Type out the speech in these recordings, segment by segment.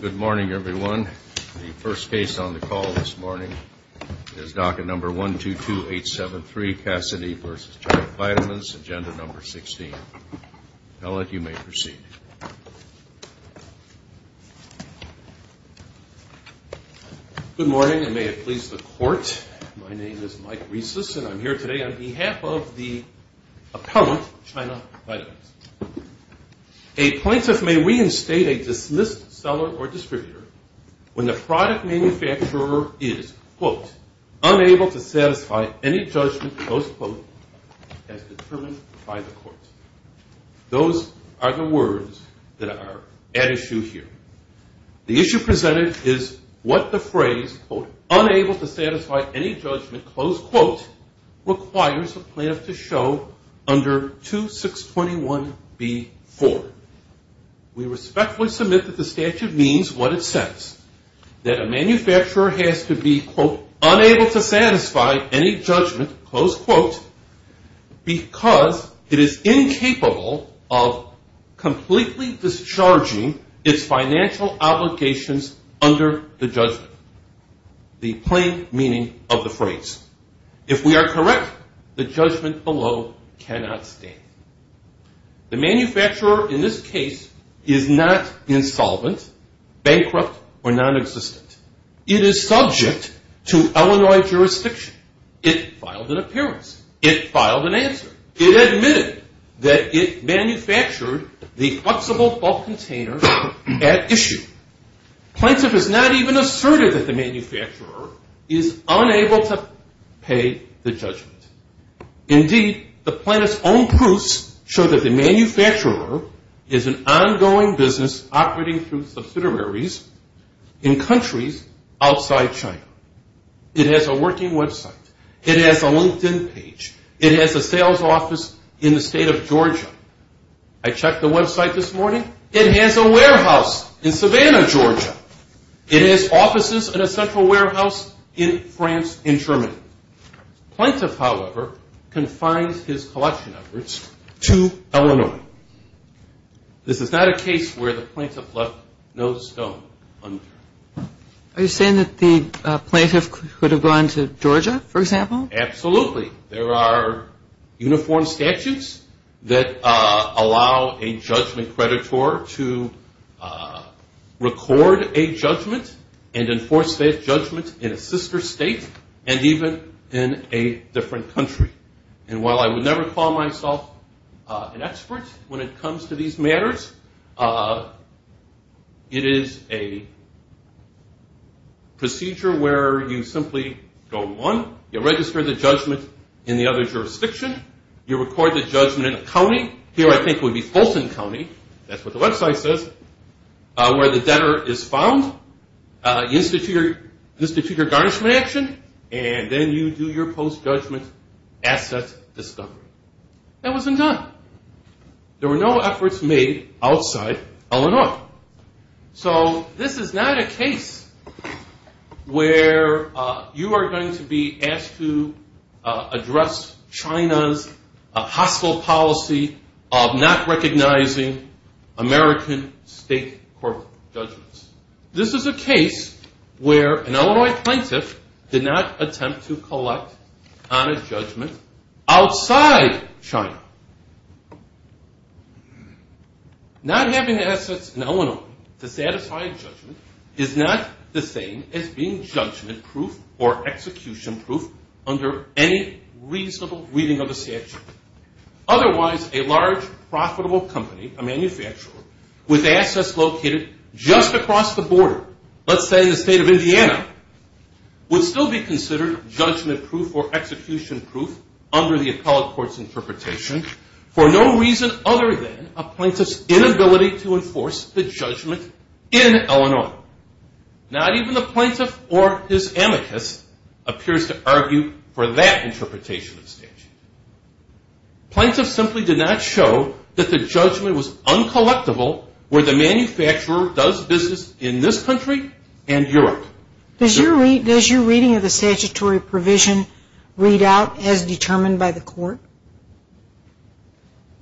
Good morning, everyone. The first case on the call this morning is docket number 122873, Cassidy v. China Vitamins, Agenda No. 16. Appellant, you may proceed. Good morning, and may it please the Court, my name is Mike Rieses, and I'm here today on behalf of the appellant, China Vitamins. A plaintiff may reinstate a dismissed seller or distributor when the product manufacturer is, quote, unable to satisfy any judgment, close quote, as determined by the court. Those are the words that are at issue here. The issue presented is what the phrase, quote, unable to satisfy any judgment, close quote, requires a plaintiff to show under 2621B4. We respectfully submit that the statute means what it says, that a manufacturer has to be, quote, unable to satisfy any judgment, close quote, because it is incapable of completely discharging its financial obligations under the judgment, the plain meaning of the phrase. If we are correct, the judgment below cannot stand. The manufacturer in this case is not insolvent, bankrupt, or nonexistent. It is subject to Illinois jurisdiction. It filed an appearance. It filed an answer. It admitted that it manufactured the flexible bulk container at issue. Plaintiff is not even assertive that the manufacturer is unable to pay the judgment. Indeed, the plaintiff's own proofs show that the manufacturer is an It has a working website. It has a LinkedIn page. It has a sales office in the state of Georgia. I checked the website this morning. It has a warehouse in Savannah, Georgia. It has offices in a central warehouse in France, in Germany. Plaintiff, however, confines his Are you saying that the plaintiff could have gone to Georgia, for example? Absolutely. There are uniform statutes that allow a judgment creditor to record a judgment and enforce that judgment in a sister state and even in a different country. While I would never call myself an expert when it comes to these matters, it is a procedure where you simply go on, you register the judgment in the other jurisdiction, you record the judgment in a county. Here I think it would be Fulton County. That's what the website says. Where the debtor is found, you institute your garnishment action, and then you do your post-judgment asset discovery. That wasn't done. There were no efforts made outside Illinois. So this is not a case where you are going to be asked to address China's hostile policy of not recognizing American state corporate judgments. This is a case where an Illinois plaintiff did not attempt to collect on a judgment outside China. Not having assets in Illinois to satisfy a judgment is not the same as being judgment proof or execution proof under any reasonable reading of the statute. Otherwise, a large profitable company, a manufacturer, with assets located just across the border, let's say in the state of Indiana, would still be considered judgment proof or execution proof under the appellate court's interpretation for no reason other than a plaintiff's inability to enforce the judgment in Illinois. Not even the plaintiff or his amicus appears to argue for that interpretation of the statute. Plaintiffs simply did not show that the judgment was uncollectible where the manufacturer does business in this country and Europe. Does your reading of the statutory provision read out as determined by the court?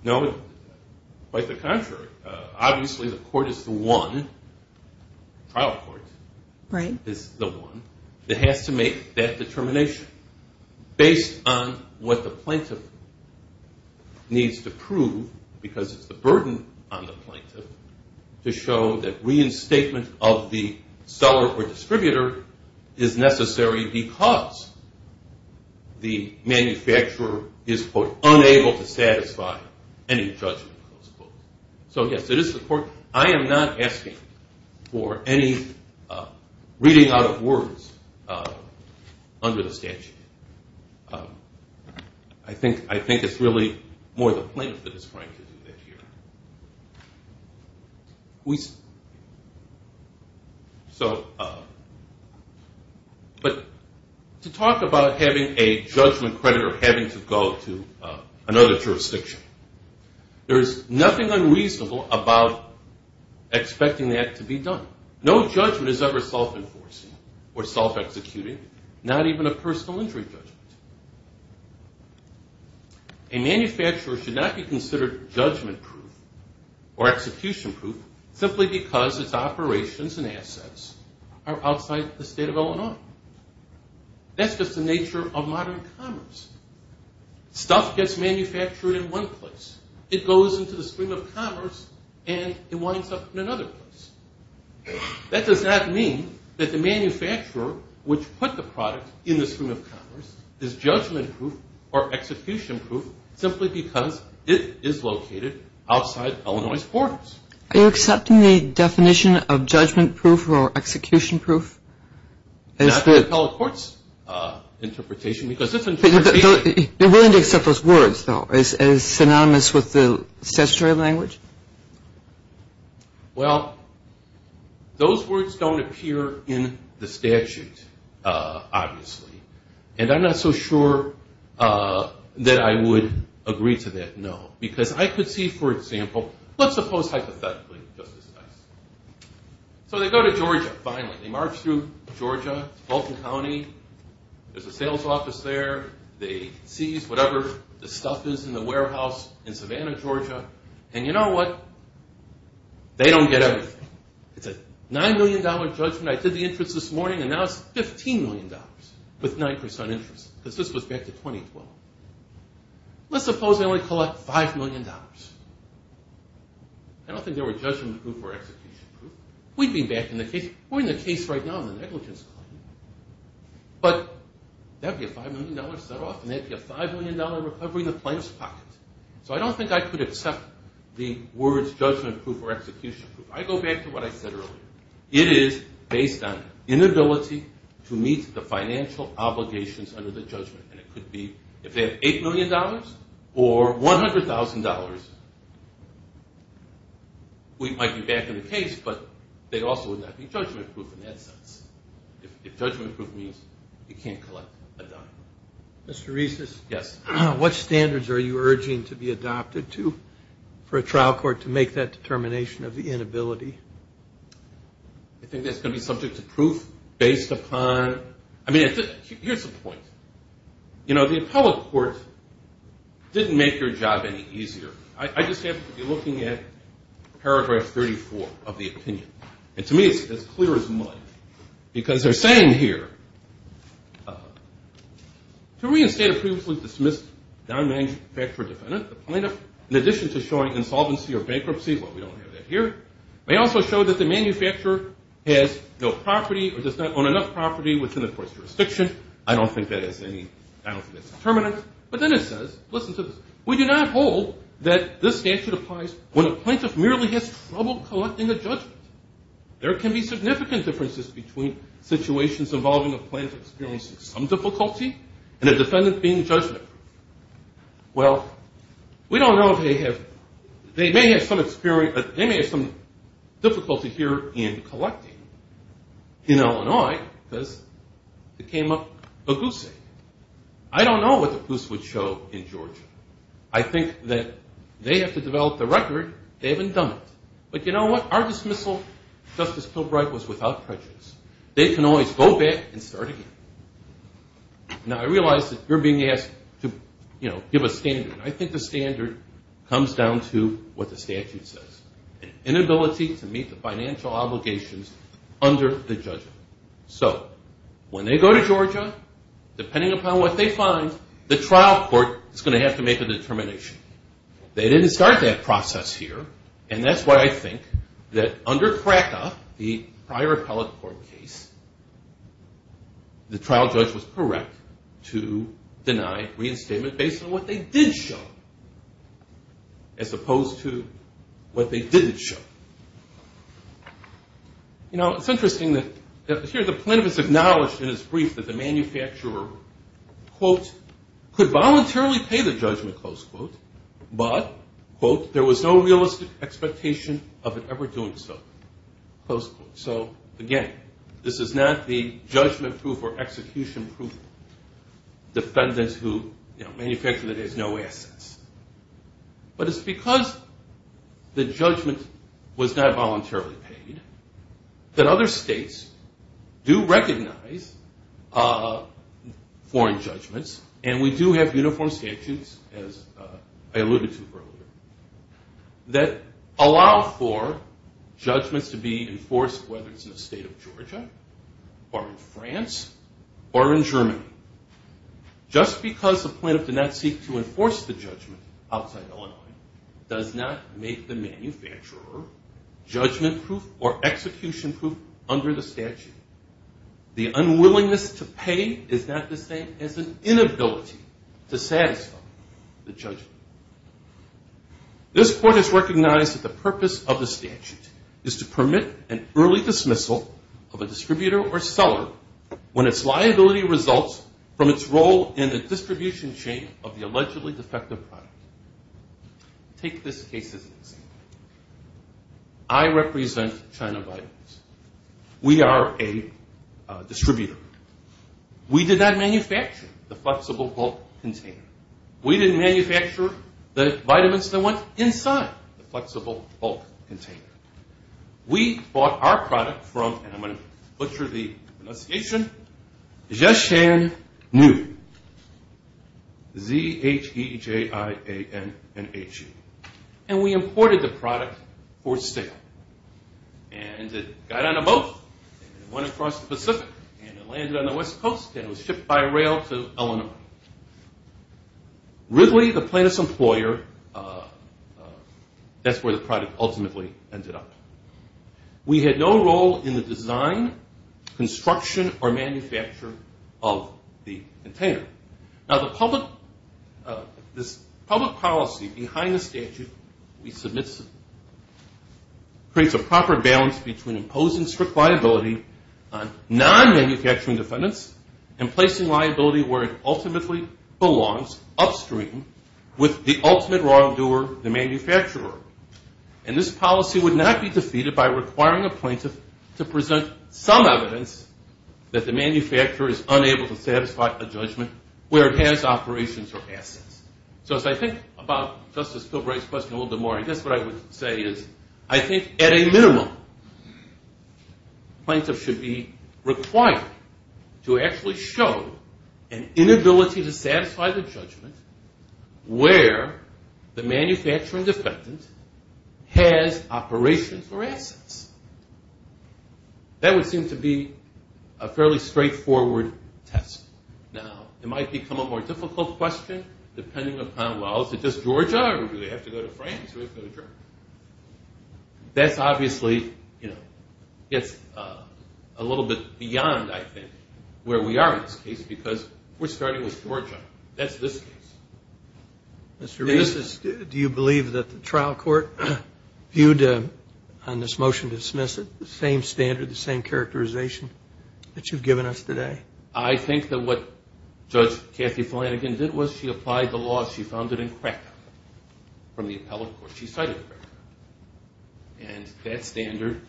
No. Quite the contrary. Obviously the court is the one, the trial court is the one, that has to make that determination based on what the plaintiff needs to prove because it's the burden on the plaintiff to show that reinstatement of the seller or distributor is necessary because the manufacturer is, quote, unable to satisfy any judgment. I am not asking for any reading out of words under the statute. I think it's really more the plaintiff that is trying to do that here. But to talk about having a judgment credit or having to go to another jurisdiction, there is nothing unreasonable about expecting that to be done. No judgment is ever self-enforcing or self-executing, not even a personal injury judgment. A manufacturer should not be considered judgment proof or execution proof simply because its operations and assets are outside the state of Illinois. That's just the nature of modern commerce. Stuff gets manufactured in one place. It goes into the stream of commerce and it winds up in another place. That does not mean that the manufacturer which put the product in the stream of commerce is judgment proof or execution proof simply because it is located outside Illinois' borders. Are you accepting the definition of judgment proof or execution proof? Not the appellate court's interpretation. You are willing to accept those words though. Is it synonymous with the statutory language? Well, those words don't appear in the statute, obviously. And I'm not so sure that I would agree to that, no. Because I could see, for example, let's suppose hypothetically. So they go to Georgia, finally. They march through Georgia, Fulton County. There's a sales office there. They seize whatever the stuff is in the warehouse in Savannah, Georgia. And you know what? They don't get everything. It's a $9 million judgment. I did the interest this morning and now it's $15 million with 9% interest because this was back in 2012. Let's suppose they only collect $5 million. I don't think they were judgment proof or execution proof. We'd be back in the case. We're in the case right now on the negligence claim. But that would be a $5 million set off and that would be a $5 million recovery in the plaintiff's pocket. So I don't think I could accept the words judgment proof or execution proof. I go back to what I said earlier. It is based on inability to meet the financial obligations under the judgment. And it could be if they have $8 million or $100,000, we might be back in the case. But they also would not be judgment proof in that sense. If judgment proof means you can't collect a dime. Mr. Reese, what standards are you urging to be adopted to for a trial court to make that determination of the inability? I think that's going to be subject to proof based upon, I mean, here's the point. You know, the appellate court didn't make your job any easier. I just happen to be looking at paragraph 34 of the opinion. And to me it's as clear as mud. Because they're saying here, to reinstate a previously dismissed non-manufacturer defendant, the plaintiff, in addition to showing insolvency or bankruptcy, well, we don't have that here, may also show that the manufacturer has no property or does not own enough property within the court's jurisdiction. I don't think that has any bound for this determinant. But then it says, listen to this, we do not hold that this statute applies when a plaintiff merely has trouble collecting a judgment. There can be significant differences between situations involving a plaintiff experiencing some difficulty and a defendant being judgment proof. Well, we don't know if they have, they may have some experience, they may have some difficulty here in collecting in Illinois because it came up a goose egg. I don't know what the goose would show in Georgia. I think that they have to develop the record. They haven't done it. But you know what? Our dismissal, Justice Pilbright, was without prejudice. They can always go back and start again. Now, I realize that you're being asked to give a standard. I think the standard comes down to what the statute says. An inability to meet the financial obligations under the judgment. So when they go to Georgia, depending upon what they find, the trial court is going to have to make a determination. They didn't start that process here, and that's why I think that under Krakow, the prior appellate court case, the trial judge was correct to deny reinstatement based on what they did show as opposed to what they didn't show. You know, it's interesting that here the plaintiff is acknowledged in his brief that the manufacturer, quote, could voluntarily pay the judgment, close quote, but, quote, there was no realistic expectation of it ever doing so. Close quote. So again, this is not the judgment-proof or execution-proof defendant who manufactured it has no assets. But it's because the judgment was not voluntarily paid that other states do recognize foreign judgments, and we do have uniform statutes, as I alluded to earlier, that allow for judgments to be enforced whether it's in the state of Georgia or in France or in Germany. Just because the plaintiff did not seek to enforce the judgment outside Illinois does not make the manufacturer judgment-proof or execution-proof under the statute. The unwillingness to pay is not the same as an inability to satisfy the judgment. This court has recognized that the purpose of the statute is to permit an early dismissal of a distributor or seller when its liability results from its role in the distribution chain of the allegedly defective product. Take this case as an example. I represent China Vitamins. We are a distributor. We did not manufacture the flexible bulk container. We didn't manufacture the vitamins that went inside the flexible bulk container. We bought our product from, and I'm going to butcher the pronunciation, Zhejianhu, Z-H-E-J-I-A-N-H-U. And we imported the product for sale. And it got on a boat and it went across the Pacific and it landed on the West Coast and it was shipped by rail to Illinois. Ridley, the plaintiff's employer, that's where the product ultimately ended up. We had no role in the design, construction, or manufacture of the container. Now, this public policy behind the statute we submit creates a proper balance between imposing strict liability on non-manufacturing defendants and placing liability where it ultimately belongs upstream with the ultimate wrongdoer, the manufacturer. And this policy would not be defeated by requiring a plaintiff to present some evidence that the manufacturer is unable to satisfy a judgment where it has operations or assets. So as I think about Justice Pilbright's question a little bit more, I guess what I would say is I think at a minimum plaintiff should be required to actually show an inability to satisfy the judgment where the manufacturing defendant has operations or assets. That would seem to be a fairly straightforward test. Now, it might become a more difficult question depending upon, well, is it just Georgia or do they have to go to France or do they have to go to Germany? That's obviously, you know, gets a little bit beyond, I think, where we are in this case because we're starting with Georgia. That's this case. Mr. Reese, do you believe that the trial court viewed on this motion to dismiss it the same standard, the same characterization that you've given us today? I think that what Judge Kathy Flanagan did was she applied the law she founded in Cracow from the appellate court. She cited Cracow. And that standard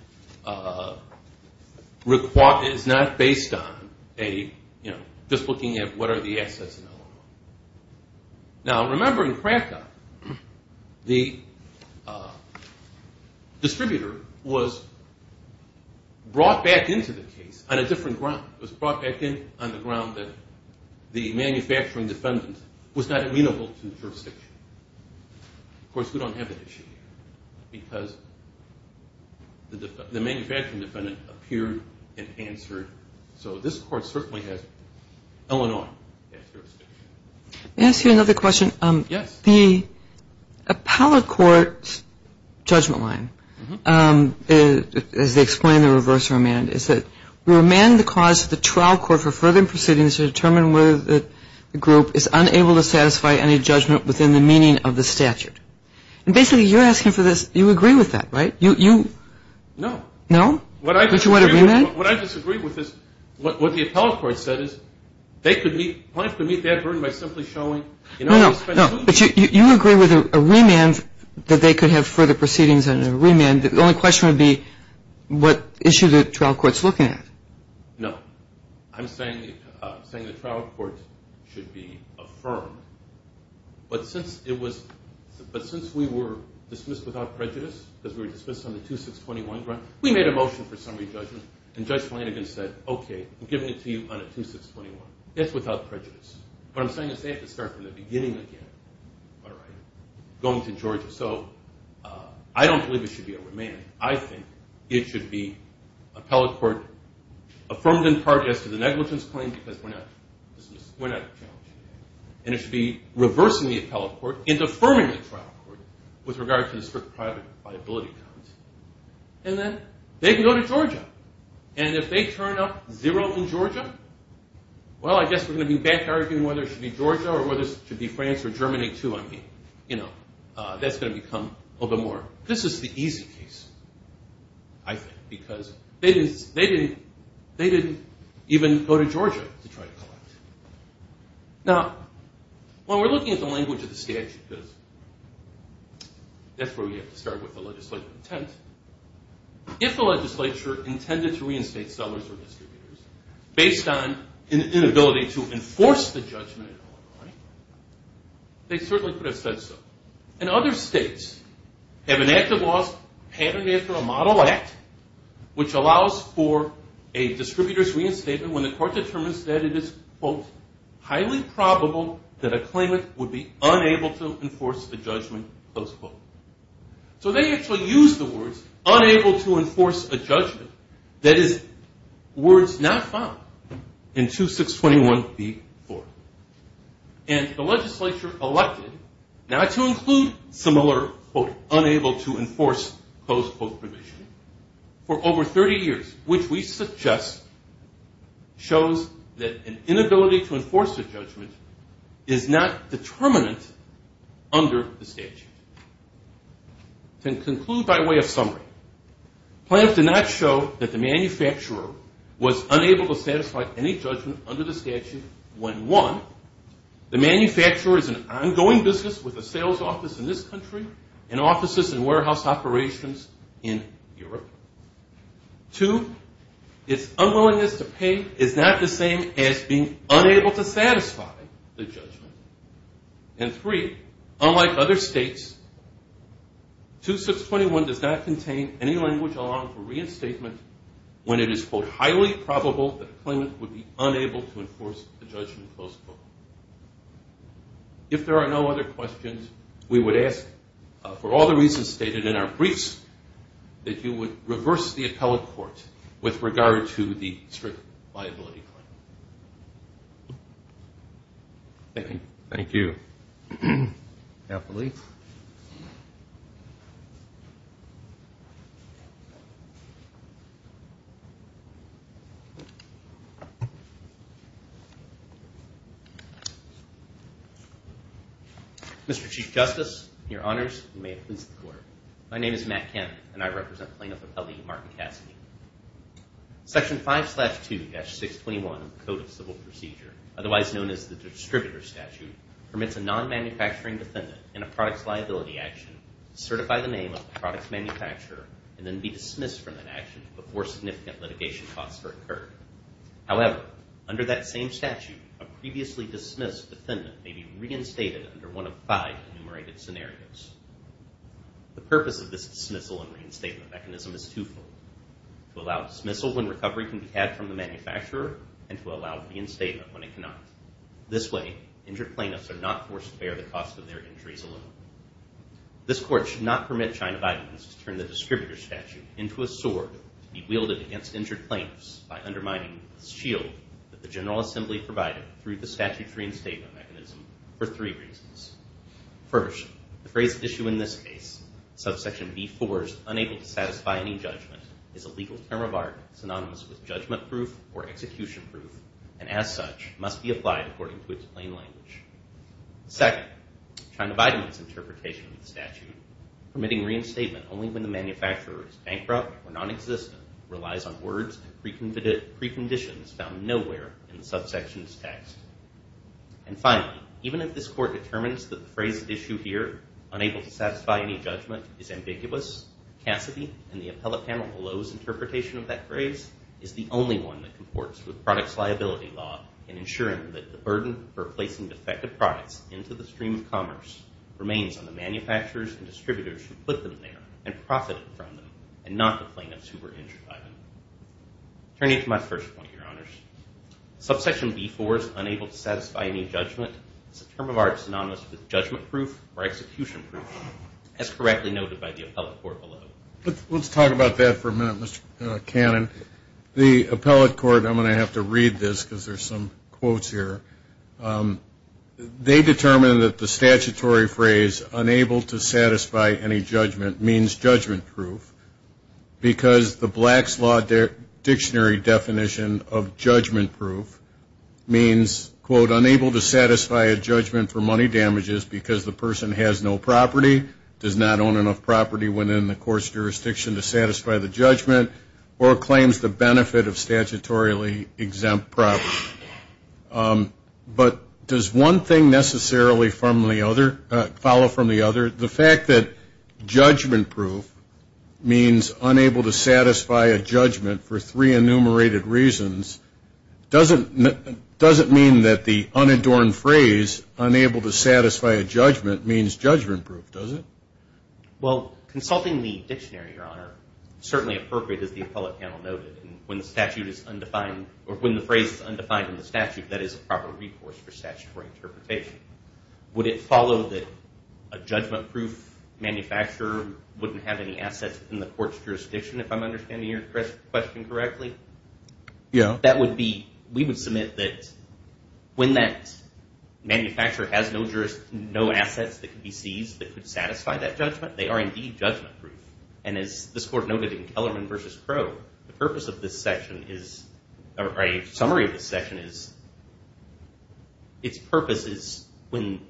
is not based on a, you know, just looking at what are the assets. Now, remember in Cracow the distributor was brought back into the case on a different ground. It was brought back in on the ground that the manufacturing defendant was not amenable to jurisdiction. Of course, we don't have that issue because the manufacturing defendant appeared and answered. So this court certainly has Illinois as jurisdiction. May I ask you another question? Yes. The appellate court's judgment line, as they explain the reverse remand, is that we remand the cause of the trial court for further proceedings to determine whether the group is unable to satisfy any judgment within the meaning of the statute. And basically you're asking for this, you agree with that, right? No. No? What I disagree with is what the appellate court said is they could meet, No, but you agree with a remand that they could have further proceedings and a remand. The only question would be what issue the trial court's looking at. No. I'm saying the trial court should be affirmed. But since it was, but since we were dismissed without prejudice, because we were dismissed on the 2621, we made a motion for summary judgment. And Judge Flanagan said, okay, I'm giving it to you on a 2621. It's without prejudice. What I'm saying is they have to start from the beginning again, all right, going to Georgia. So I don't believe it should be a remand. I think it should be appellate court affirmed in part as to the negligence claim because we're not, we're not challenged. And it should be reversing the appellate court and affirming the trial court with regard to the strict private liability. And then they can go to Georgia. And if they turn up zero in Georgia, well, I guess we're going to be back arguing whether it should be Georgia or whether it should be France or Germany too. I mean, you know, that's going to become a little bit more. This is the easy case, I think, because they didn't even go to Georgia to try to collect. Now, when we're looking at the language of the statute, because that's where we have to start with the legislative intent. If the legislature intended to reinstate sellers or distributors based on an inability to enforce the judgment, they certainly could have said so. And other states have enacted laws patterned after a model act, which allows for a distributor's reinstatement when the court determines that it is, quote, highly probable that a claimant would be unable to enforce the judgment, close quote. So they actually used the words unable to enforce a judgment. That is words not found in 2621b-4. And the legislature elected not to include similar, quote, unable to enforce close quote provision for over 30 years, which we suggest shows that an inability to enforce a judgment is not determinant under the statute. To conclude by way of summary, plans did not show that the manufacturer was unable to satisfy any judgment under the statute when, one, the manufacturer is an ongoing business with a sales office in this country and offices and warehouse operations in Europe. Two, its unwillingness to pay is not the same as being unable to satisfy the judgment. And three, unlike other states, 2621 does not contain any language allowing for reinstatement when it is, quote, unable to enforce the judgment, close quote. If there are no other questions, we would ask, for all the reasons stated in our briefs, that you would reverse the appellate court with regard to the strict liability claim. Thank you. Mr. Chief Justice, your honors, and may it please the court. My name is Matt Kemp, and I represent plaintiff appellee Martin Cassidy. Section 5-2-621 of the Code of Civil Procedure, otherwise known as the Distributor Statute, permits a non-manufacturing defendant in a product's liability action to certify the name of the product's manufacturer and then be dismissed from that action before significant litigation costs are incurred. However, under that same statute, a previously dismissed defendant may be reinstated under one of five enumerated scenarios. The purpose of this dismissal and reinstatement mechanism is twofold. To allow dismissal when recovery can be had from the manufacturer, and to allow reinstatement when it cannot. This way, injured plaintiffs are not forced to bear the cost of their injuries alone. This court should not permit China Vitamins to turn the Distributor Statute into a sword to be wielded against injured plaintiffs by undermining the shield that the General Assembly provided through the statute's reinstatement mechanism for three reasons. First, the phrase issue in this case, subsection B-4's unable to satisfy any judgment, is a legal term of art synonymous with judgment proof or execution proof, and as such, must be applied according to its plain language. Second, China Vitamins' interpretation of the statute, permitting reinstatement only when the manufacturer is bankrupt or non-existent, relies on words and preconditions found nowhere in the subsection's text. And finally, even if this court determines that the phrase issue here, unable to satisfy any judgment, is ambiguous, Cassidy and the appellate panel below's interpretation of that phrase is the only one that comports with product's liability law in ensuring that the burden for placing defective products into the stream of commerce remains on the manufacturers and distributors who put them there and profited from them, and not the plaintiffs who were injured by them. Turning to my first point, your honors, subsection B-4's unable to satisfy any judgment, is a term of art synonymous with judgment proof or execution proof, as correctly noted by the appellate court below. Let's talk about that for a minute, Mr. Cannon. The appellate court, I'm going to have to read this because there's some quotes here, they determined that the statutory phrase, unable to satisfy any judgment, means judgment proof, because the Black's Law Dictionary definition of judgment proof means, quote, unable to satisfy a judgment for money damages because the person has no property, does not own enough property within the court's jurisdiction to satisfy the judgment, or claims the benefit of statutorily exempt property. But does one thing necessarily follow from the other? The fact that judgment proof means unable to satisfy a judgment for three enumerated reasons, doesn't mean that the unadorned phrase, unable to satisfy a judgment, means judgment proof, does it? Well, consulting the dictionary, your honor, certainly appropriate as the appellate panel noted, and when the phrase is undefined in the statute, that is a proper recourse for statutory interpretation. Would it follow that a judgment proof manufacturer wouldn't have any assets in the court's jurisdiction, if I'm understanding your question correctly? Yeah. That would be, we would submit that when that manufacturer has no assets that can be seized that could satisfy that judgment, they are indeed judgment proof. And as this court noted in Kellerman v. Crowe, the purpose of this section is, or a summary of this section is, its purpose is when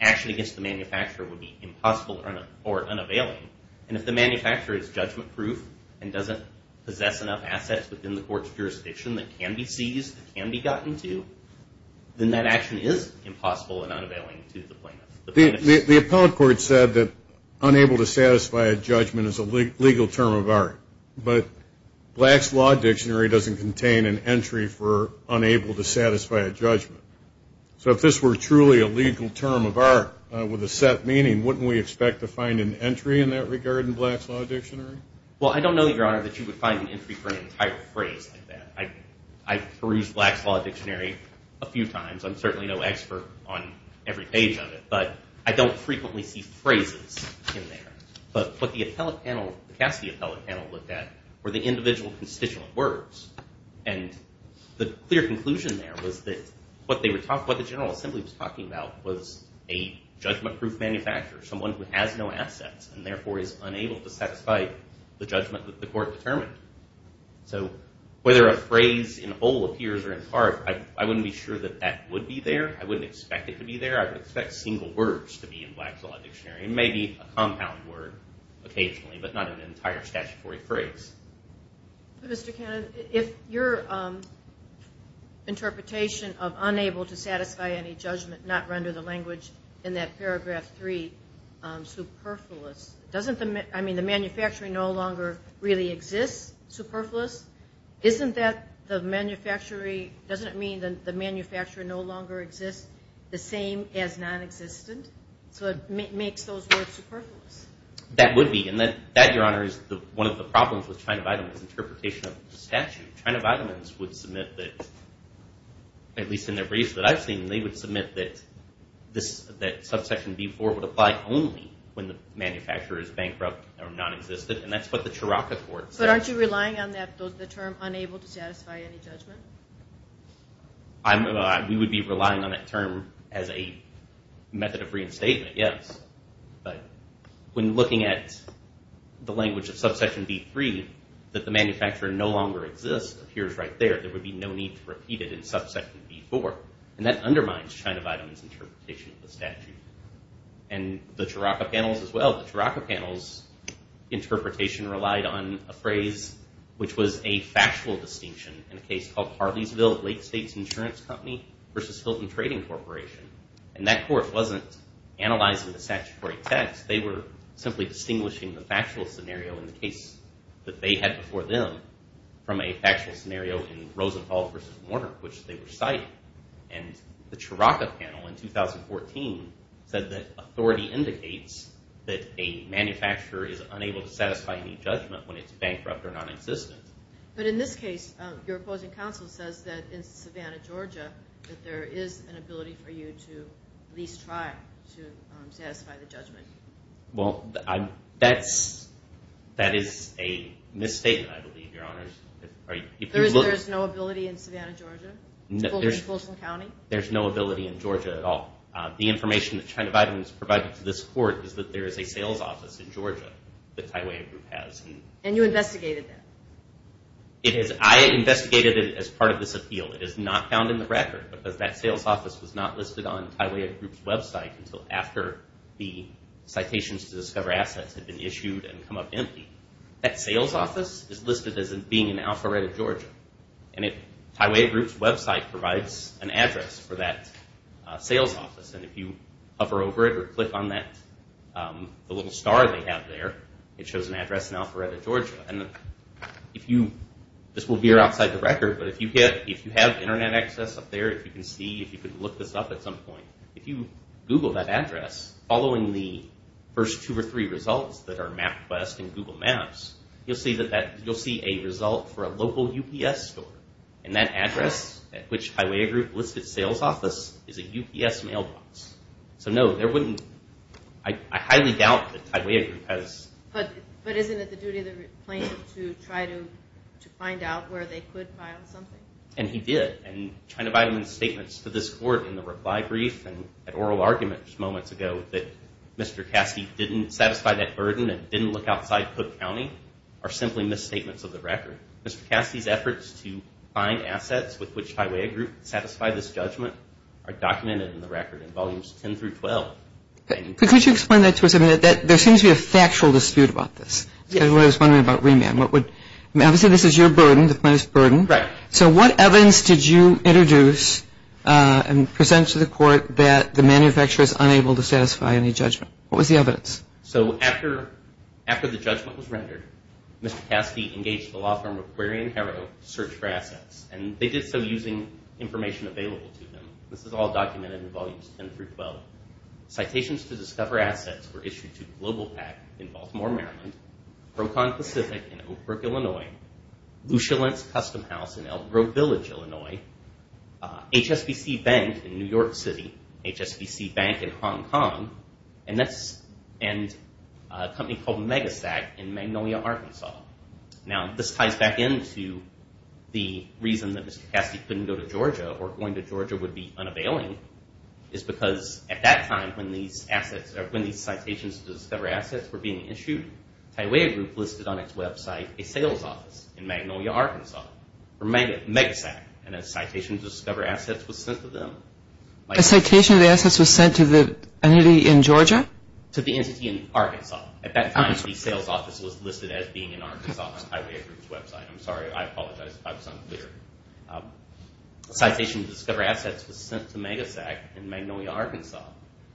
action against the manufacturer would be impossible or unavailing. And if the manufacturer is judgment proof, and doesn't possess enough assets within the court's jurisdiction that can be seized, that can be gotten to, then that action is impossible and unavailing to the plaintiff. The appellate court said that unable to satisfy a judgment is a legal term of art. But Black's Law Dictionary doesn't contain an entry for unable to satisfy a judgment. So if this were truly a legal term of art with a set meaning, wouldn't we expect to find an entry in that regard in Black's Law Dictionary? Well, I don't know, Your Honor, that you would find an entry for an entire phrase like that. I've perused Black's Law Dictionary a few times. I'm certainly no expert on every page of it. But I don't frequently see phrases in there. But what the Cassidy appellate panel looked at were the individual constituent words. And the clear conclusion there was that what the General Assembly was talking about was a judgment proof manufacturer, someone who has no assets, and therefore is unable to satisfy the judgment that the court determined. So whether a phrase in whole appears or in part, I wouldn't be sure that that would be there. I wouldn't expect it to be there. I would expect single words to be in Black's Law Dictionary, maybe a compound word occasionally, but not an entire statutory phrase. Mr. Cannon, if your interpretation of unable to satisfy any judgment, not render the language in that paragraph 3 superfluous, doesn't the manufacturer no longer really exist superfluous? Doesn't it mean that the manufacturer no longer exists the same as nonexistent? So it makes those words superfluous. That would be. And that, Your Honor, is one of the problems with China Vitamins' interpretation of the statute. China Vitamins would submit that, at least in their briefs that I've seen, they would submit that subsection B-4 would apply only when the manufacturer is bankrupt or nonexistent. And that's what the Chirac Accord says. But aren't you relying on the term unable to satisfy any judgment? We would be relying on that term as a method of reinstatement, yes. But when looking at the language of subsection B-3, that the manufacturer no longer exists appears right there. There would be no need to repeat it in subsection B-4. And that undermines China Vitamins' interpretation of the statute. And the Chirac Accord panels as well. The Chirac Accord panels' interpretation relied on a phrase which was a factual distinction in a case called Harleysville Lake States Insurance Company v. Hilton Trading Corporation. And that court wasn't analyzing the statutory text. They were simply distinguishing the factual scenario in the case that they had before them from a factual scenario in Rosenthal v. Warner, which they were citing. And the Chirac Accord panel in 2014 said that authority indicates that a manufacturer is unable to satisfy any judgment when it's bankrupt or nonexistent. But in this case, your opposing counsel says that in Savannah, Georgia, that there is an ability for you to at least try to satisfy the judgment. Well, that is a misstatement, I believe, Your Honors. There is no ability in Savannah, Georgia? There is no ability in Georgia at all. The information that China Vitamins provided to this court is that there is a sales office in Georgia that Tyway Group has. And you investigated that? I investigated it as part of this appeal. It is not found in the record because that sales office was not listed on Tyway Group's website until after the citations to discover assets had been issued and come up empty. That sales office is listed as being in Alpharetta, Georgia. And Tyway Group's website provides an address for that sales office. And if you hover over it or click on the little star they have there, it shows an address in Alpharetta, Georgia. And this will veer outside the record, but if you have Internet access up there, if you can see, if you can look this up at some point, if you Google that address, following the first two or three results that are MapQuest and Google Maps, you'll see a result for a local UPS store. And that address at which Tyway Group listed sales office is a UPS mailbox. So no, I highly doubt that Tyway Group has... But isn't it the duty of the plaintiff to try to find out where they could find something? And he did. And China Vitamins' statements to this court in the reply brief and at oral arguments moments ago that Mr. Cassidy didn't satisfy that burden and didn't look outside Cook County are simply misstatements of the record. Mr. Cassidy's efforts to find assets with which Tyway Group could satisfy this judgment are documented in the record in Volumes 10 through 12. Could you explain that to us a minute? There seems to be a factual dispute about this. I was wondering about remand. Obviously this is your burden, the plaintiff's burden. Right. So what evidence did you introduce and present to the court that the manufacturer is unable to satisfy any judgment? What was the evidence? So after the judgment was rendered, Mr. Cassidy engaged the law firm Aquarian Hero to search for assets. And they did so using information available to them. This is all documented in Volumes 10 through 12. Citations to discover assets were issued to GlobalPak in Baltimore, Maryland, Procon Pacific in Oakbrook, Illinois, Lushalence Custom House in Elk Grove Village, Illinois, HSBC Bank in New York City, HSBC Bank in Hong Kong, and a company called Megasac in Magnolia, Arkansas. Now this ties back into the reason that Mr. Cassidy couldn't go to Georgia or going to Georgia would be unavailing is because at that time when these citations to discover assets were being issued, Tyway Group listed on its website a sales office in Magnolia, Arkansas for Megasac. And a citation to discover assets was sent to them. A citation to discover assets was sent to the entity in Georgia? To the entity in Arkansas. At that time the sales office was listed as being in Arkansas on Tyway Group's website. I'm sorry, I apologize if I was unclear. A citation to discover assets was sent to Megasac in Magnolia, Arkansas.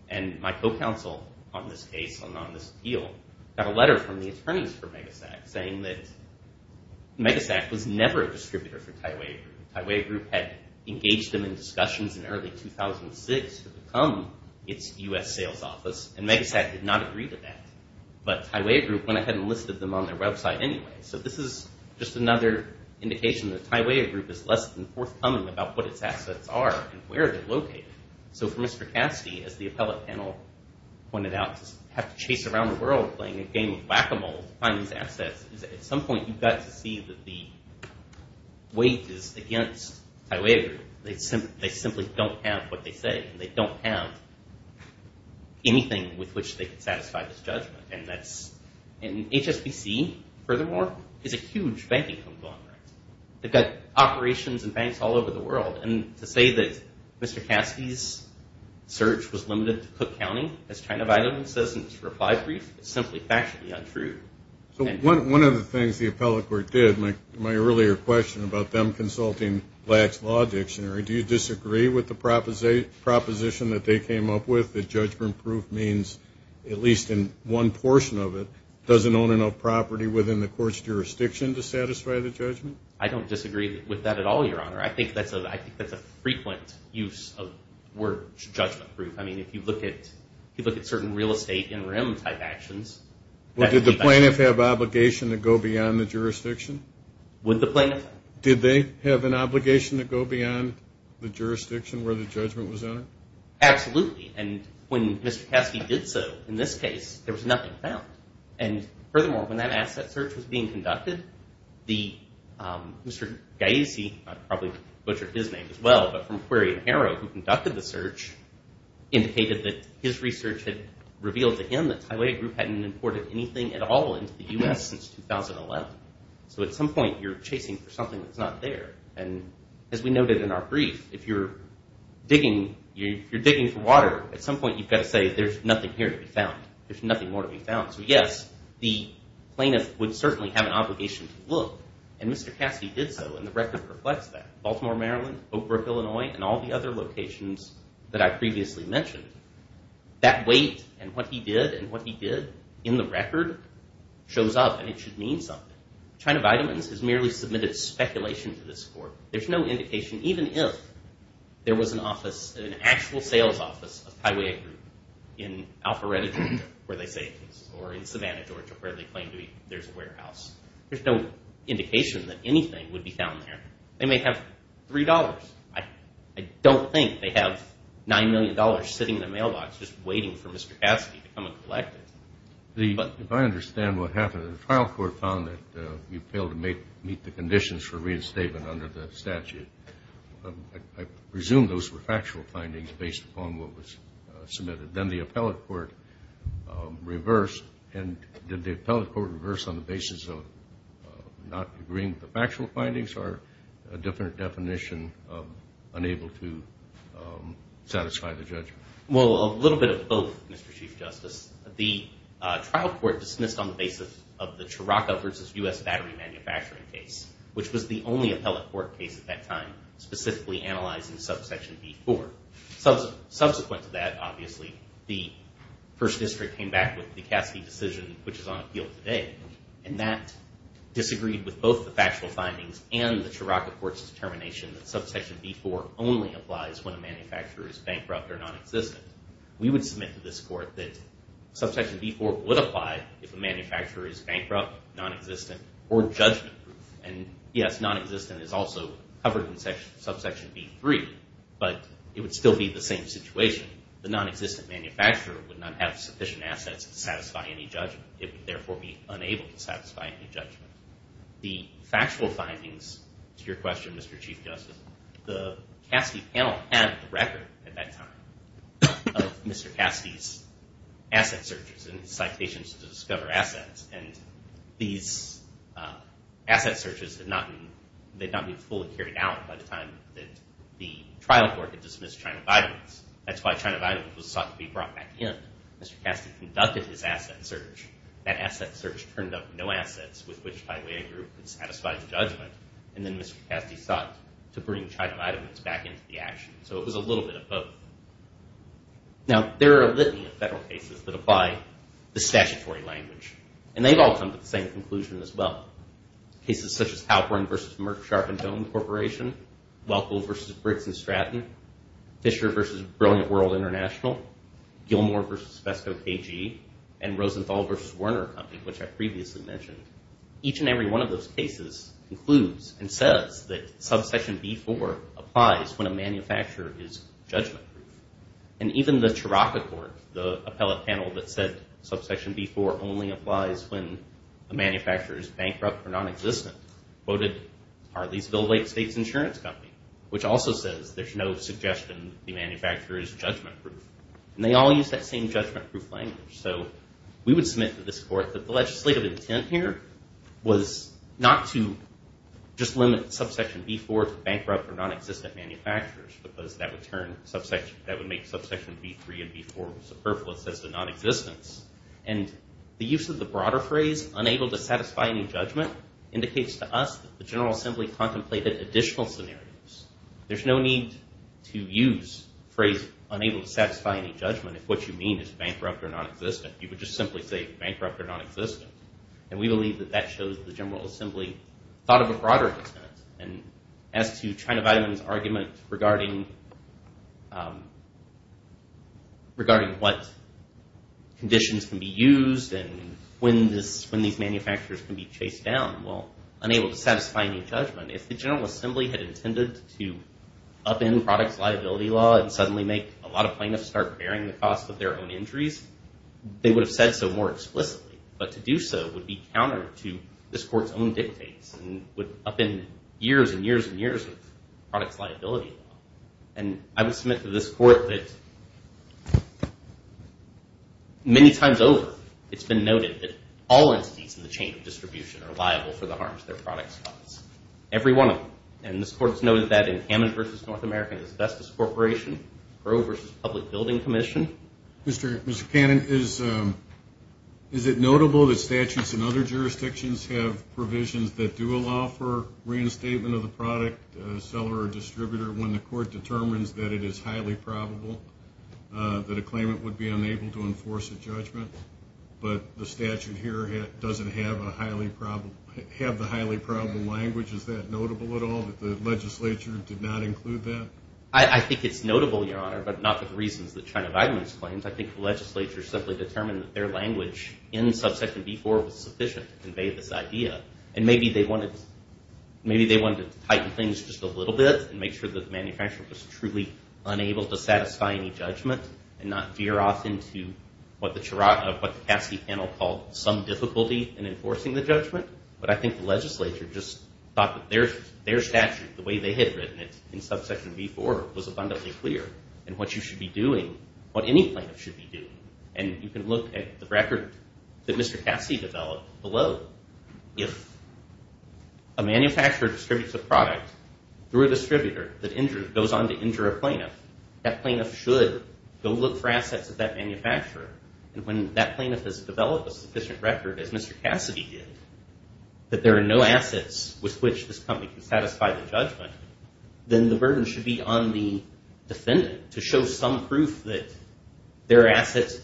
And my co-counsel on this case and on this appeal got a letter from the attorneys for Megasac saying that Megasac was never a distributor for Tyway Group. Tyway Group had engaged them in discussions in early 2006 to become its U.S. sales office, and Megasac did not agree to that. But Tyway Group went ahead and listed them on their website anyway. So this is just another indication that Tyway Group is less than forthcoming about what its assets are and where they're located. So for Mr. Cassidy, as the appellate panel pointed out, to have to chase around the world playing a game of whack-a-mole to find these assets, at some point you've got to see that the weight is against Tyway Group. They simply don't have what they say. They don't have anything with which they can satisfy this judgment. And HSBC, furthermore, is a huge banking company. They've got operations in banks all over the world. And to say that Mr. Cassidy's search was limited to Cook County as China Vitamins says in its reply brief is simply factually untrue. So one of the things the appellate court did, my earlier question about them consulting LAC's law dictionary, do you disagree with the proposition that they came up with that judgment proof means, at least in one portion of it, doesn't own enough property within the court's jurisdiction to satisfy the judgment? I don't disagree with that at all, Your Honor. I think that's a frequent use of the word judgment proof. I mean, if you look at certain real estate interim type actions. Well, did the plaintiff have obligation to go beyond the jurisdiction? Would the plaintiff? Did they have an obligation to go beyond the jurisdiction where the judgment was in? Absolutely. And when Mr. Cassidy did so, in this case, there was nothing found. And furthermore, when that asset search was being conducted, Mr. Gaisi, I'd probably butcher his name as well, but from Query and Harrow, who conducted the search, indicated that his research had revealed to him that Tylea Group hadn't imported anything at all into the U.S. since 2011. So at some point, you're chasing for something that's not there. And as we noted in our brief, if you're digging for water, at some point you've got to say, there's nothing here to be found. There's nothing more to be found. So yes, the plaintiff would certainly have an obligation to look. And Mr. Cassidy did so, and the record reflects that. Baltimore, Maryland, Oak Brook, Illinois, and all the other locations that I previously mentioned, that weight and what he did and what he did in the record shows up, and it should mean something. China Vitamins has merely submitted speculation to this court. There's no indication, even if there was an office, an actual sales office of Tylea Group in Alpharetta, Georgia, where they say it is, or in Savannah, Georgia, where they claim to be, there's a warehouse. There's no indication that anything would be found there. They may have $3. I don't think they have $9 million sitting in the mailbox just waiting for Mr. Cassidy to come and collect it. If I understand what happened, the trial court found that you failed to meet the conditions for reinstatement under the statute. I presume those were factual findings based upon what was submitted. Then the appellate court reversed. And did the appellate court reverse on the basis of not agreeing with the factual findings or a different definition of unable to satisfy the judgment? Well, a little bit of both, Mr. Chief Justice. The trial court dismissed on the basis of the Chiraco versus U.S. Battery Manufacturing case, which was the only appellate court case at that time specifically analyzing subsection B-4. Subsequent to that, obviously, the first district came back with the Cassidy decision, which is on appeal today, and that disagreed with both the factual findings and the Chiraco court's determination that subsection B-4 only applies when a manufacturer is bankrupt or nonexistent. We would submit to this court that subsection B-4 would apply if a manufacturer is bankrupt, nonexistent, or judgment-proof. And yes, nonexistent is also covered in subsection B-3, but it would still be the same situation. The nonexistent manufacturer would not have sufficient assets to satisfy any judgment. It would therefore be unable to satisfy any judgment. The factual findings, to your question, Mr. Chief Justice, the Cassidy panel had a record at that time of Mr. Cassidy's asset searches and citations to discover assets, and these asset searches did not be fully carried out by the time that the trial court had dismissed China Vitamins. That's why China Vitamins was sought to be brought back in. Mr. Cassidy conducted his asset search. That asset search turned up no assets with which, by the way, a group could satisfy the judgment, and then Mr. Cassidy sought to bring China Vitamins back into the action. So it was a little bit of both. Now, there are a litany of federal cases that apply the statutory language, and they've all come to the same conclusion as well. Cases such as Halperin v. Merck, Sharpe & Dome Corporation, Welkel v. Briggs & Stratton, Fisher v. Brilliant World International, Gilmore v. Pesco KG, and Rosenthal v. Werner Company, which I previously mentioned. Each and every one of those cases includes and says that subsection B-4 applies when a manufacturer is judgment-proof. And even the Chirac Accord, the appellate panel that said subsection B-4 only applies when a manufacturer is bankrupt or nonexistent, quoted Harleysville Lake State's insurance company, which also says there's no suggestion the manufacturer is judgment-proof. And they all use that same judgment-proof language. So we would submit to this court that the legislative intent here was not to just limit subsection B-4 to bankrupt or nonexistent manufacturers, because that would make subsection B-3 and B-4 superfluous as to nonexistence. And the use of the broader phrase, unable to satisfy any judgment, indicates to us that the General Assembly contemplated additional scenarios. There's no need to use the phrase unable to satisfy any judgment if what you mean is bankrupt or nonexistent. You could just simply say bankrupt or nonexistent. And we believe that that shows the General Assembly thought of a broader intent. And as to China Vitamins' argument regarding what conditions can be used and when these manufacturers can be chased down, well, unable to satisfy any judgment, if the General Assembly had intended to upend products liability law and suddenly make a lot of plaintiffs start bearing the cost of their own injuries, they would have said so more explicitly. But to do so would be counter to this court's own dictates and would upend years and years and years of products liability law. And I would submit to this court that many times over, it's been noted that all entities in the chain of distribution are liable for the harms their products cause. Every one of them. And this court has noted that in Hammond v. North America and Asbestos Corporation, Grove v. Public Building Commission. Mr. Cannon, is it notable that statutes in other jurisdictions have provisions that do allow for reinstatement of the product, seller or distributor, when the court determines that it is highly probable that a claimant would be unable to enforce a judgment, but the statute here doesn't have the highly probable language? Is that notable at all, that the legislature did not include that? I think it's notable, Your Honor, but not for the reasons that China Vitamins claims. I think the legislature simply determined that their language in subsection B-4 was sufficient to convey this idea. And maybe they wanted to tighten things just a little bit and make sure that the manufacturer was truly unable to satisfy any judgment and not veer off into what the Cassie panel called some difficulty in enforcing the judgment. But I think the legislature just thought that their statute, the way they had written it in subsection B-4, was abundantly clear in what you should be doing, what any plaintiff should be doing. And you can look at the record that Mr. Cassie developed below. If a manufacturer distributes a product through a distributor that goes on to injure a plaintiff, that plaintiff should go look for assets at that manufacturer. And when that plaintiff has developed a sufficient record, as Mr. Cassie did, that there are no assets with which this company can satisfy the judgment, then the burden should be on the defendant to show some proof that there are assets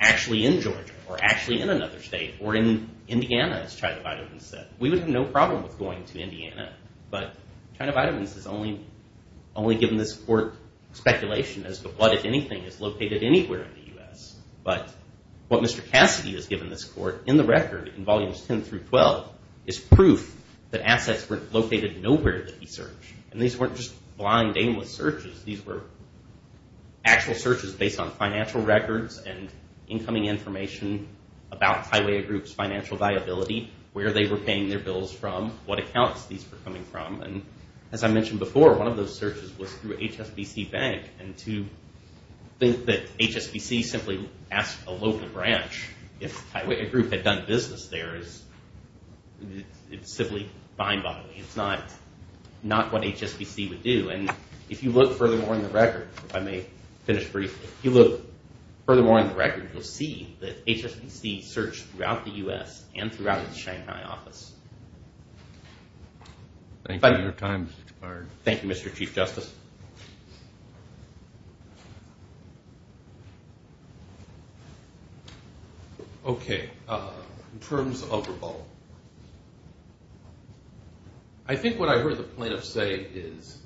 actually in Georgia or actually in another state or in Indiana, as China Vitamins said. We would have no problem with going to Indiana, but China Vitamins has only given this court speculation as to what, if anything, is located anywhere in the U.S. But what Mr. Cassie has given this court in the record in volumes 10 through 12 is proof that assets were located nowhere that he searched. And these weren't just blind, aimless searches. These were actual searches based on financial records and incoming information about Taiwea Group's financial viability, where they were paying their bills from, what accounts these were coming from. And as I mentioned before, one of those searches was through HSBC Bank. And to think that HSBC simply asked a local branch if Taiwea Group had done business there is simply mind-boggling. It's not what HSBC would do. And if you look furthermore in the record, if I may finish briefly, if you look furthermore in the record, you'll see that HSBC searched throughout the U.S. and throughout the Shanghai office. Thank you, Mr. Chief Justice. Okay, in terms of revolt, I think what I heard the plaintiffs say is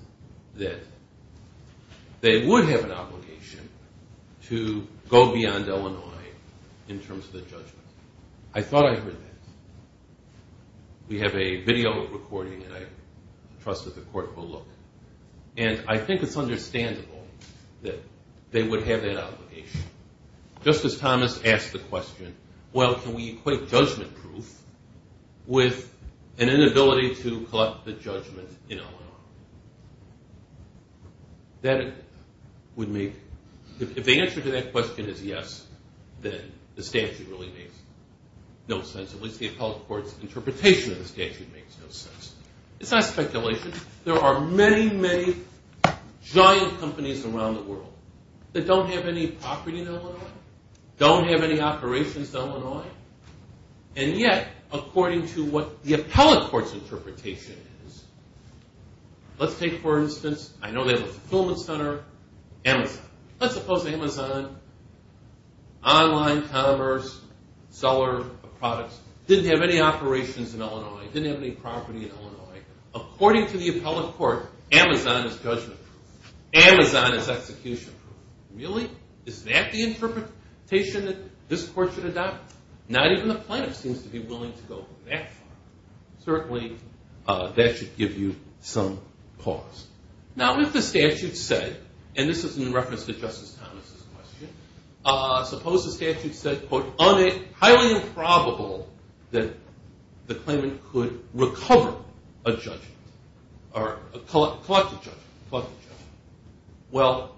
that they would have an obligation to go beyond Illinois in terms of the judgment. I thought I heard that. We have a video recording, and I trust that the court will look. And I think it's understandable that they would have that obligation. Justice Thomas asked the question, well, can we equate judgment proof with an inability to collect the judgment in Illinois? If the answer to that question is yes, then the statute really makes no sense. At least the appellate court's interpretation of the statute makes no sense. It's not speculation. There are many, many giant companies around the world that don't have any property in Illinois, don't have any operations in Illinois, and yet, according to what the appellate court's interpretation is, let's take, for instance, I know they have a fulfillment center, Amazon. Let's suppose Amazon, online commerce, seller of products, didn't have any operations in Illinois, didn't have any property in Illinois. According to the appellate court, Amazon is judgment proof. Amazon is execution proof. Really? Is that the interpretation that this court should adopt? Not even the plaintiff seems to be willing to go that far. Certainly, that should give you some cause. Now, if the statute said, and this is in reference to Justice Thomas' question, suppose the statute said, quote, highly improbable that the claimant could recover a judgment or collect a judgment, collect a judgment. Well,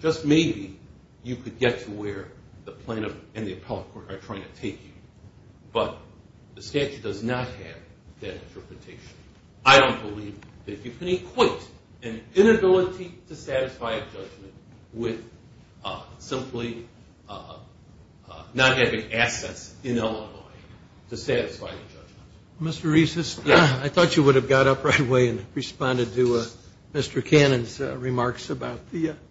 just maybe you could get to where the plaintiff and the appellate court are trying to take you, but the statute does not have that interpretation. I don't believe that you can equate an inability to satisfy a judgment with simply not having assets in Illinois to satisfy a judgment. Mr. Reis, I thought you would have got up right away and responded to Mr. Cannon's remarks about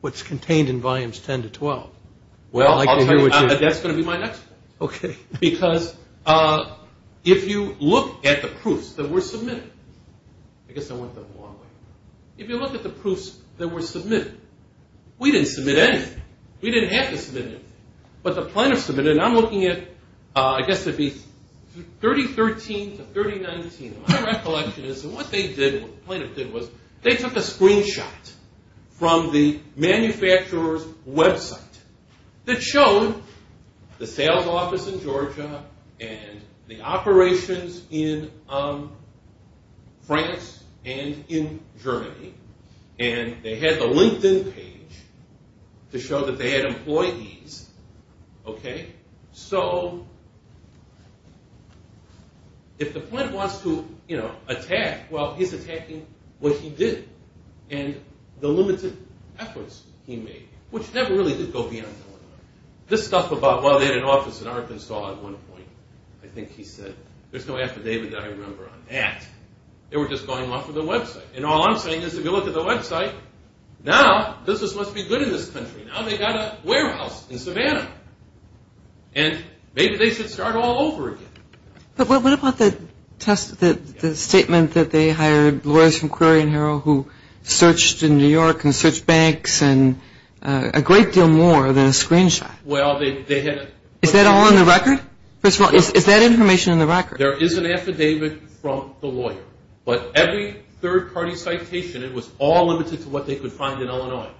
what's contained in volumes 10 to 12. Well, that's going to be my next point. Because if you look at the proofs that were submitted, I guess I went the wrong way. If you look at the proofs that were submitted, we didn't submit anything. We didn't have to submit anything. But the plaintiff submitted, and I'm looking at, I guess it would be 3013 to 3019. My recollection is that what the plaintiff did was they took a screenshot from the manufacturer's website that showed the sales office in Georgia and the operations in France and in Germany, and they had the LinkedIn page to show that they had employees. So if the plaintiff wants to attack, well, he's attacking what he did and the limited efforts he made, which never really did go beyond Illinois. This stuff about, well, they had an office in Arkansas at one point. I think he said, there's no affidavit that I remember on that. They were just going off of the website. And all I'm saying is if you look at the website, now business must be good in this country. Now they've got a warehouse in Savannah. And maybe they should start all over again. But what about the statement that they hired lawyers from Query and Herald who searched in New York and searched banks and a great deal more than a screenshot? Well, they had a – Is that all in the record? First of all, is that information in the record? There is an affidavit from the lawyer. But every third-party citation, it was all limited to what they could find in Illinois.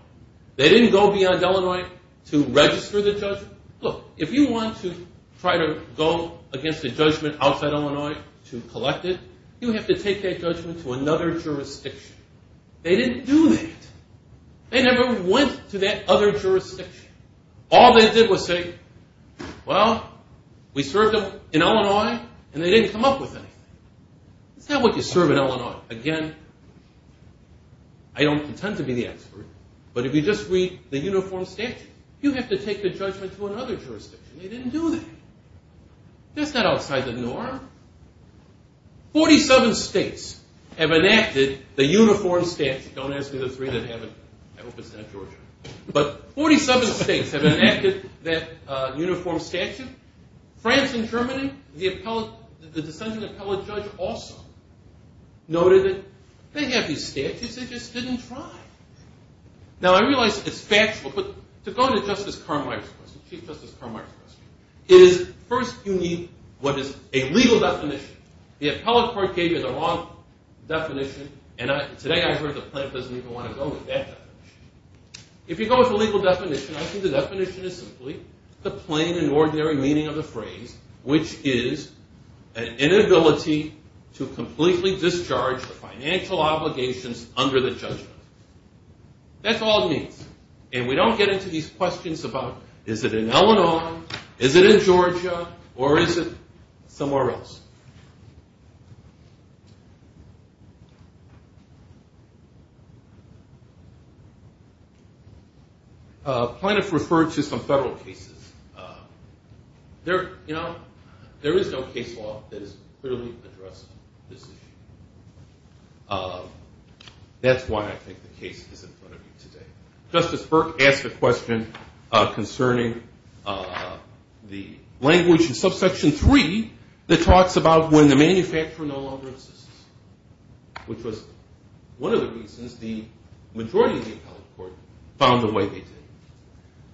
They didn't go beyond Illinois to register the judgment. Look, if you want to try to go against a judgment outside Illinois to collect it, you have to take that judgment to another jurisdiction. They didn't do that. They never went to that other jurisdiction. All they did was say, well, we served them in Illinois, and they didn't come up with anything. That's not what you serve in Illinois. Again, I don't intend to be the expert, but if you just read the uniform statute, you have to take the judgment to another jurisdiction. They didn't do that. That's not outside the norm. Forty-seven states have enacted the uniform statute. Don't ask me the three that haven't. I hope it's not Georgia. But 47 states have enacted that uniform statute. France and Germany, the dissenting appellate judge also noted that they have these statutes. They just didn't try. Now, I realize it's factual, but to go to Justice Carmichael's question, Chief Justice Carmichael's question, is first you need what is a legal definition. The appellate court gave you the wrong definition, and today I heard the plaintiff doesn't even want to go with that definition. If you go with a legal definition, I think the definition is simply the plain and ordinary meaning of the phrase, which is an inability to completely discharge the financial obligations under the judgment. That's all it means. And we don't get into these questions about is it in Illinois, is it in Georgia, or is it somewhere else. The plaintiff referred to some federal cases. There is no case law that has clearly addressed this issue. That's why I think the case is in front of you today. Justice Burke asked a question concerning the language in subsection 3 that talks about when the manufacturer no longer exists, which was one of the reasons the majority of the appellate court found the way they did.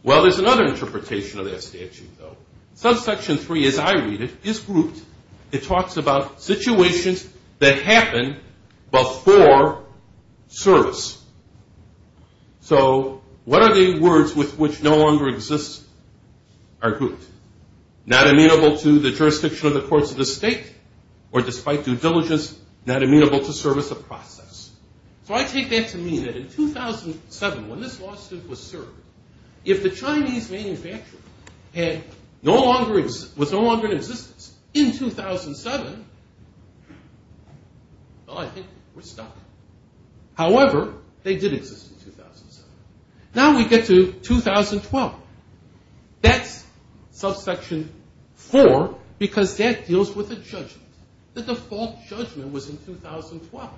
Well, there's another interpretation of that statute, though. Subsection 3, as I read it, is grouped. It talks about situations that happen before service. So what are the words with which no longer exists are grouped? Not amenable to the jurisdiction of the courts of the state, or despite due diligence, not amenable to service of process. So I take that to mean that in 2007, when this lawsuit was served, if the Chinese manufacturer was no longer in existence in 2007, well, I think we're stuck. However, they did exist in 2007. Now we get to 2012. That's subsection 4, because that deals with a judgment. The default judgment was in 2012,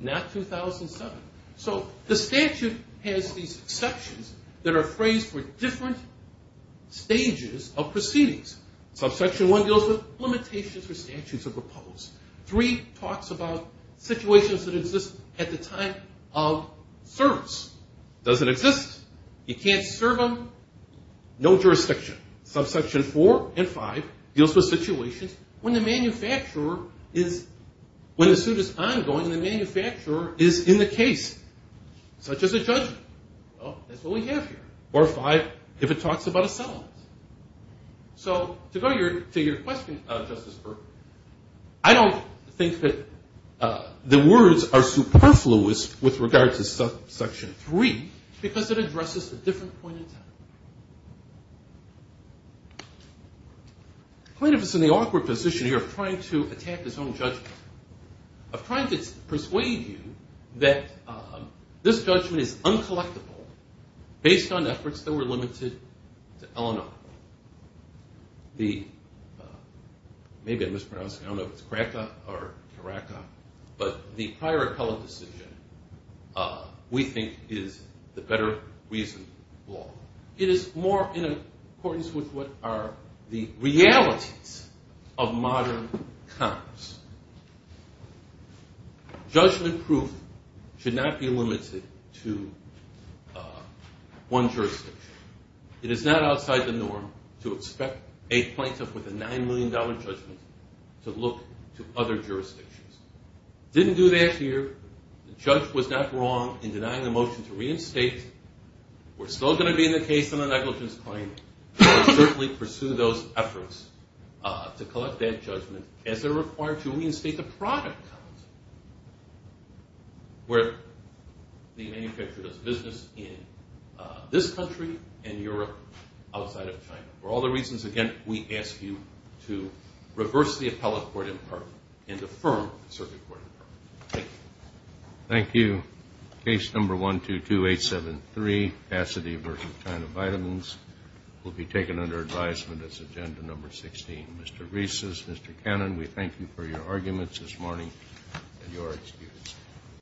not 2007. So the statute has these exceptions that are phrased for different stages of proceedings. Subsection 1 deals with limitations for statutes of repose. 3 talks about situations that exist at the time of service. Doesn't exist. You can't serve them. No jurisdiction. Subsection 4 and 5 deals with situations when the suit is ongoing and the manufacturer is in the case, such as a judgment. Well, that's what we have here. Or 5, if it talks about a settlement. So to go to your question, Justice Burke, I don't think that the words are superfluous with regard to subsection 3, because it addresses a different point in time. The plaintiff is in the awkward position here of trying to attack his own judgment, of trying to persuade you that this judgment is uncollectible based on efforts that were limited to Illinois. Maybe I'm mispronouncing it. I don't know if it's Krakow or Krakow. But the prior appellate decision, we think, is the better reasoned law. It is more in accordance with what are the realities of modern Congress. Judgment proof should not be limited to one jurisdiction. It is not outside the norm to expect a plaintiff with a $9 million judgment to look to other jurisdictions. Didn't do that here. The judge was not wrong in denying the motion to reinstate. We're still going to be in the case on a negligence claim. We'll certainly pursue those efforts to collect that judgment as they're required to reinstate the product. Where the manufacturer does business in this country and Europe outside of China. For all the reasons, again, we ask you to reverse the appellate court impartment and affirm the circuit court impartment. Thank you. Thank you. Case number 122873, Cassidy v. China Vitamins, will be taken under advisement as agenda number 16. Mr. Reese, Mr. Cannon, we thank you for your arguments this morning. You are excused.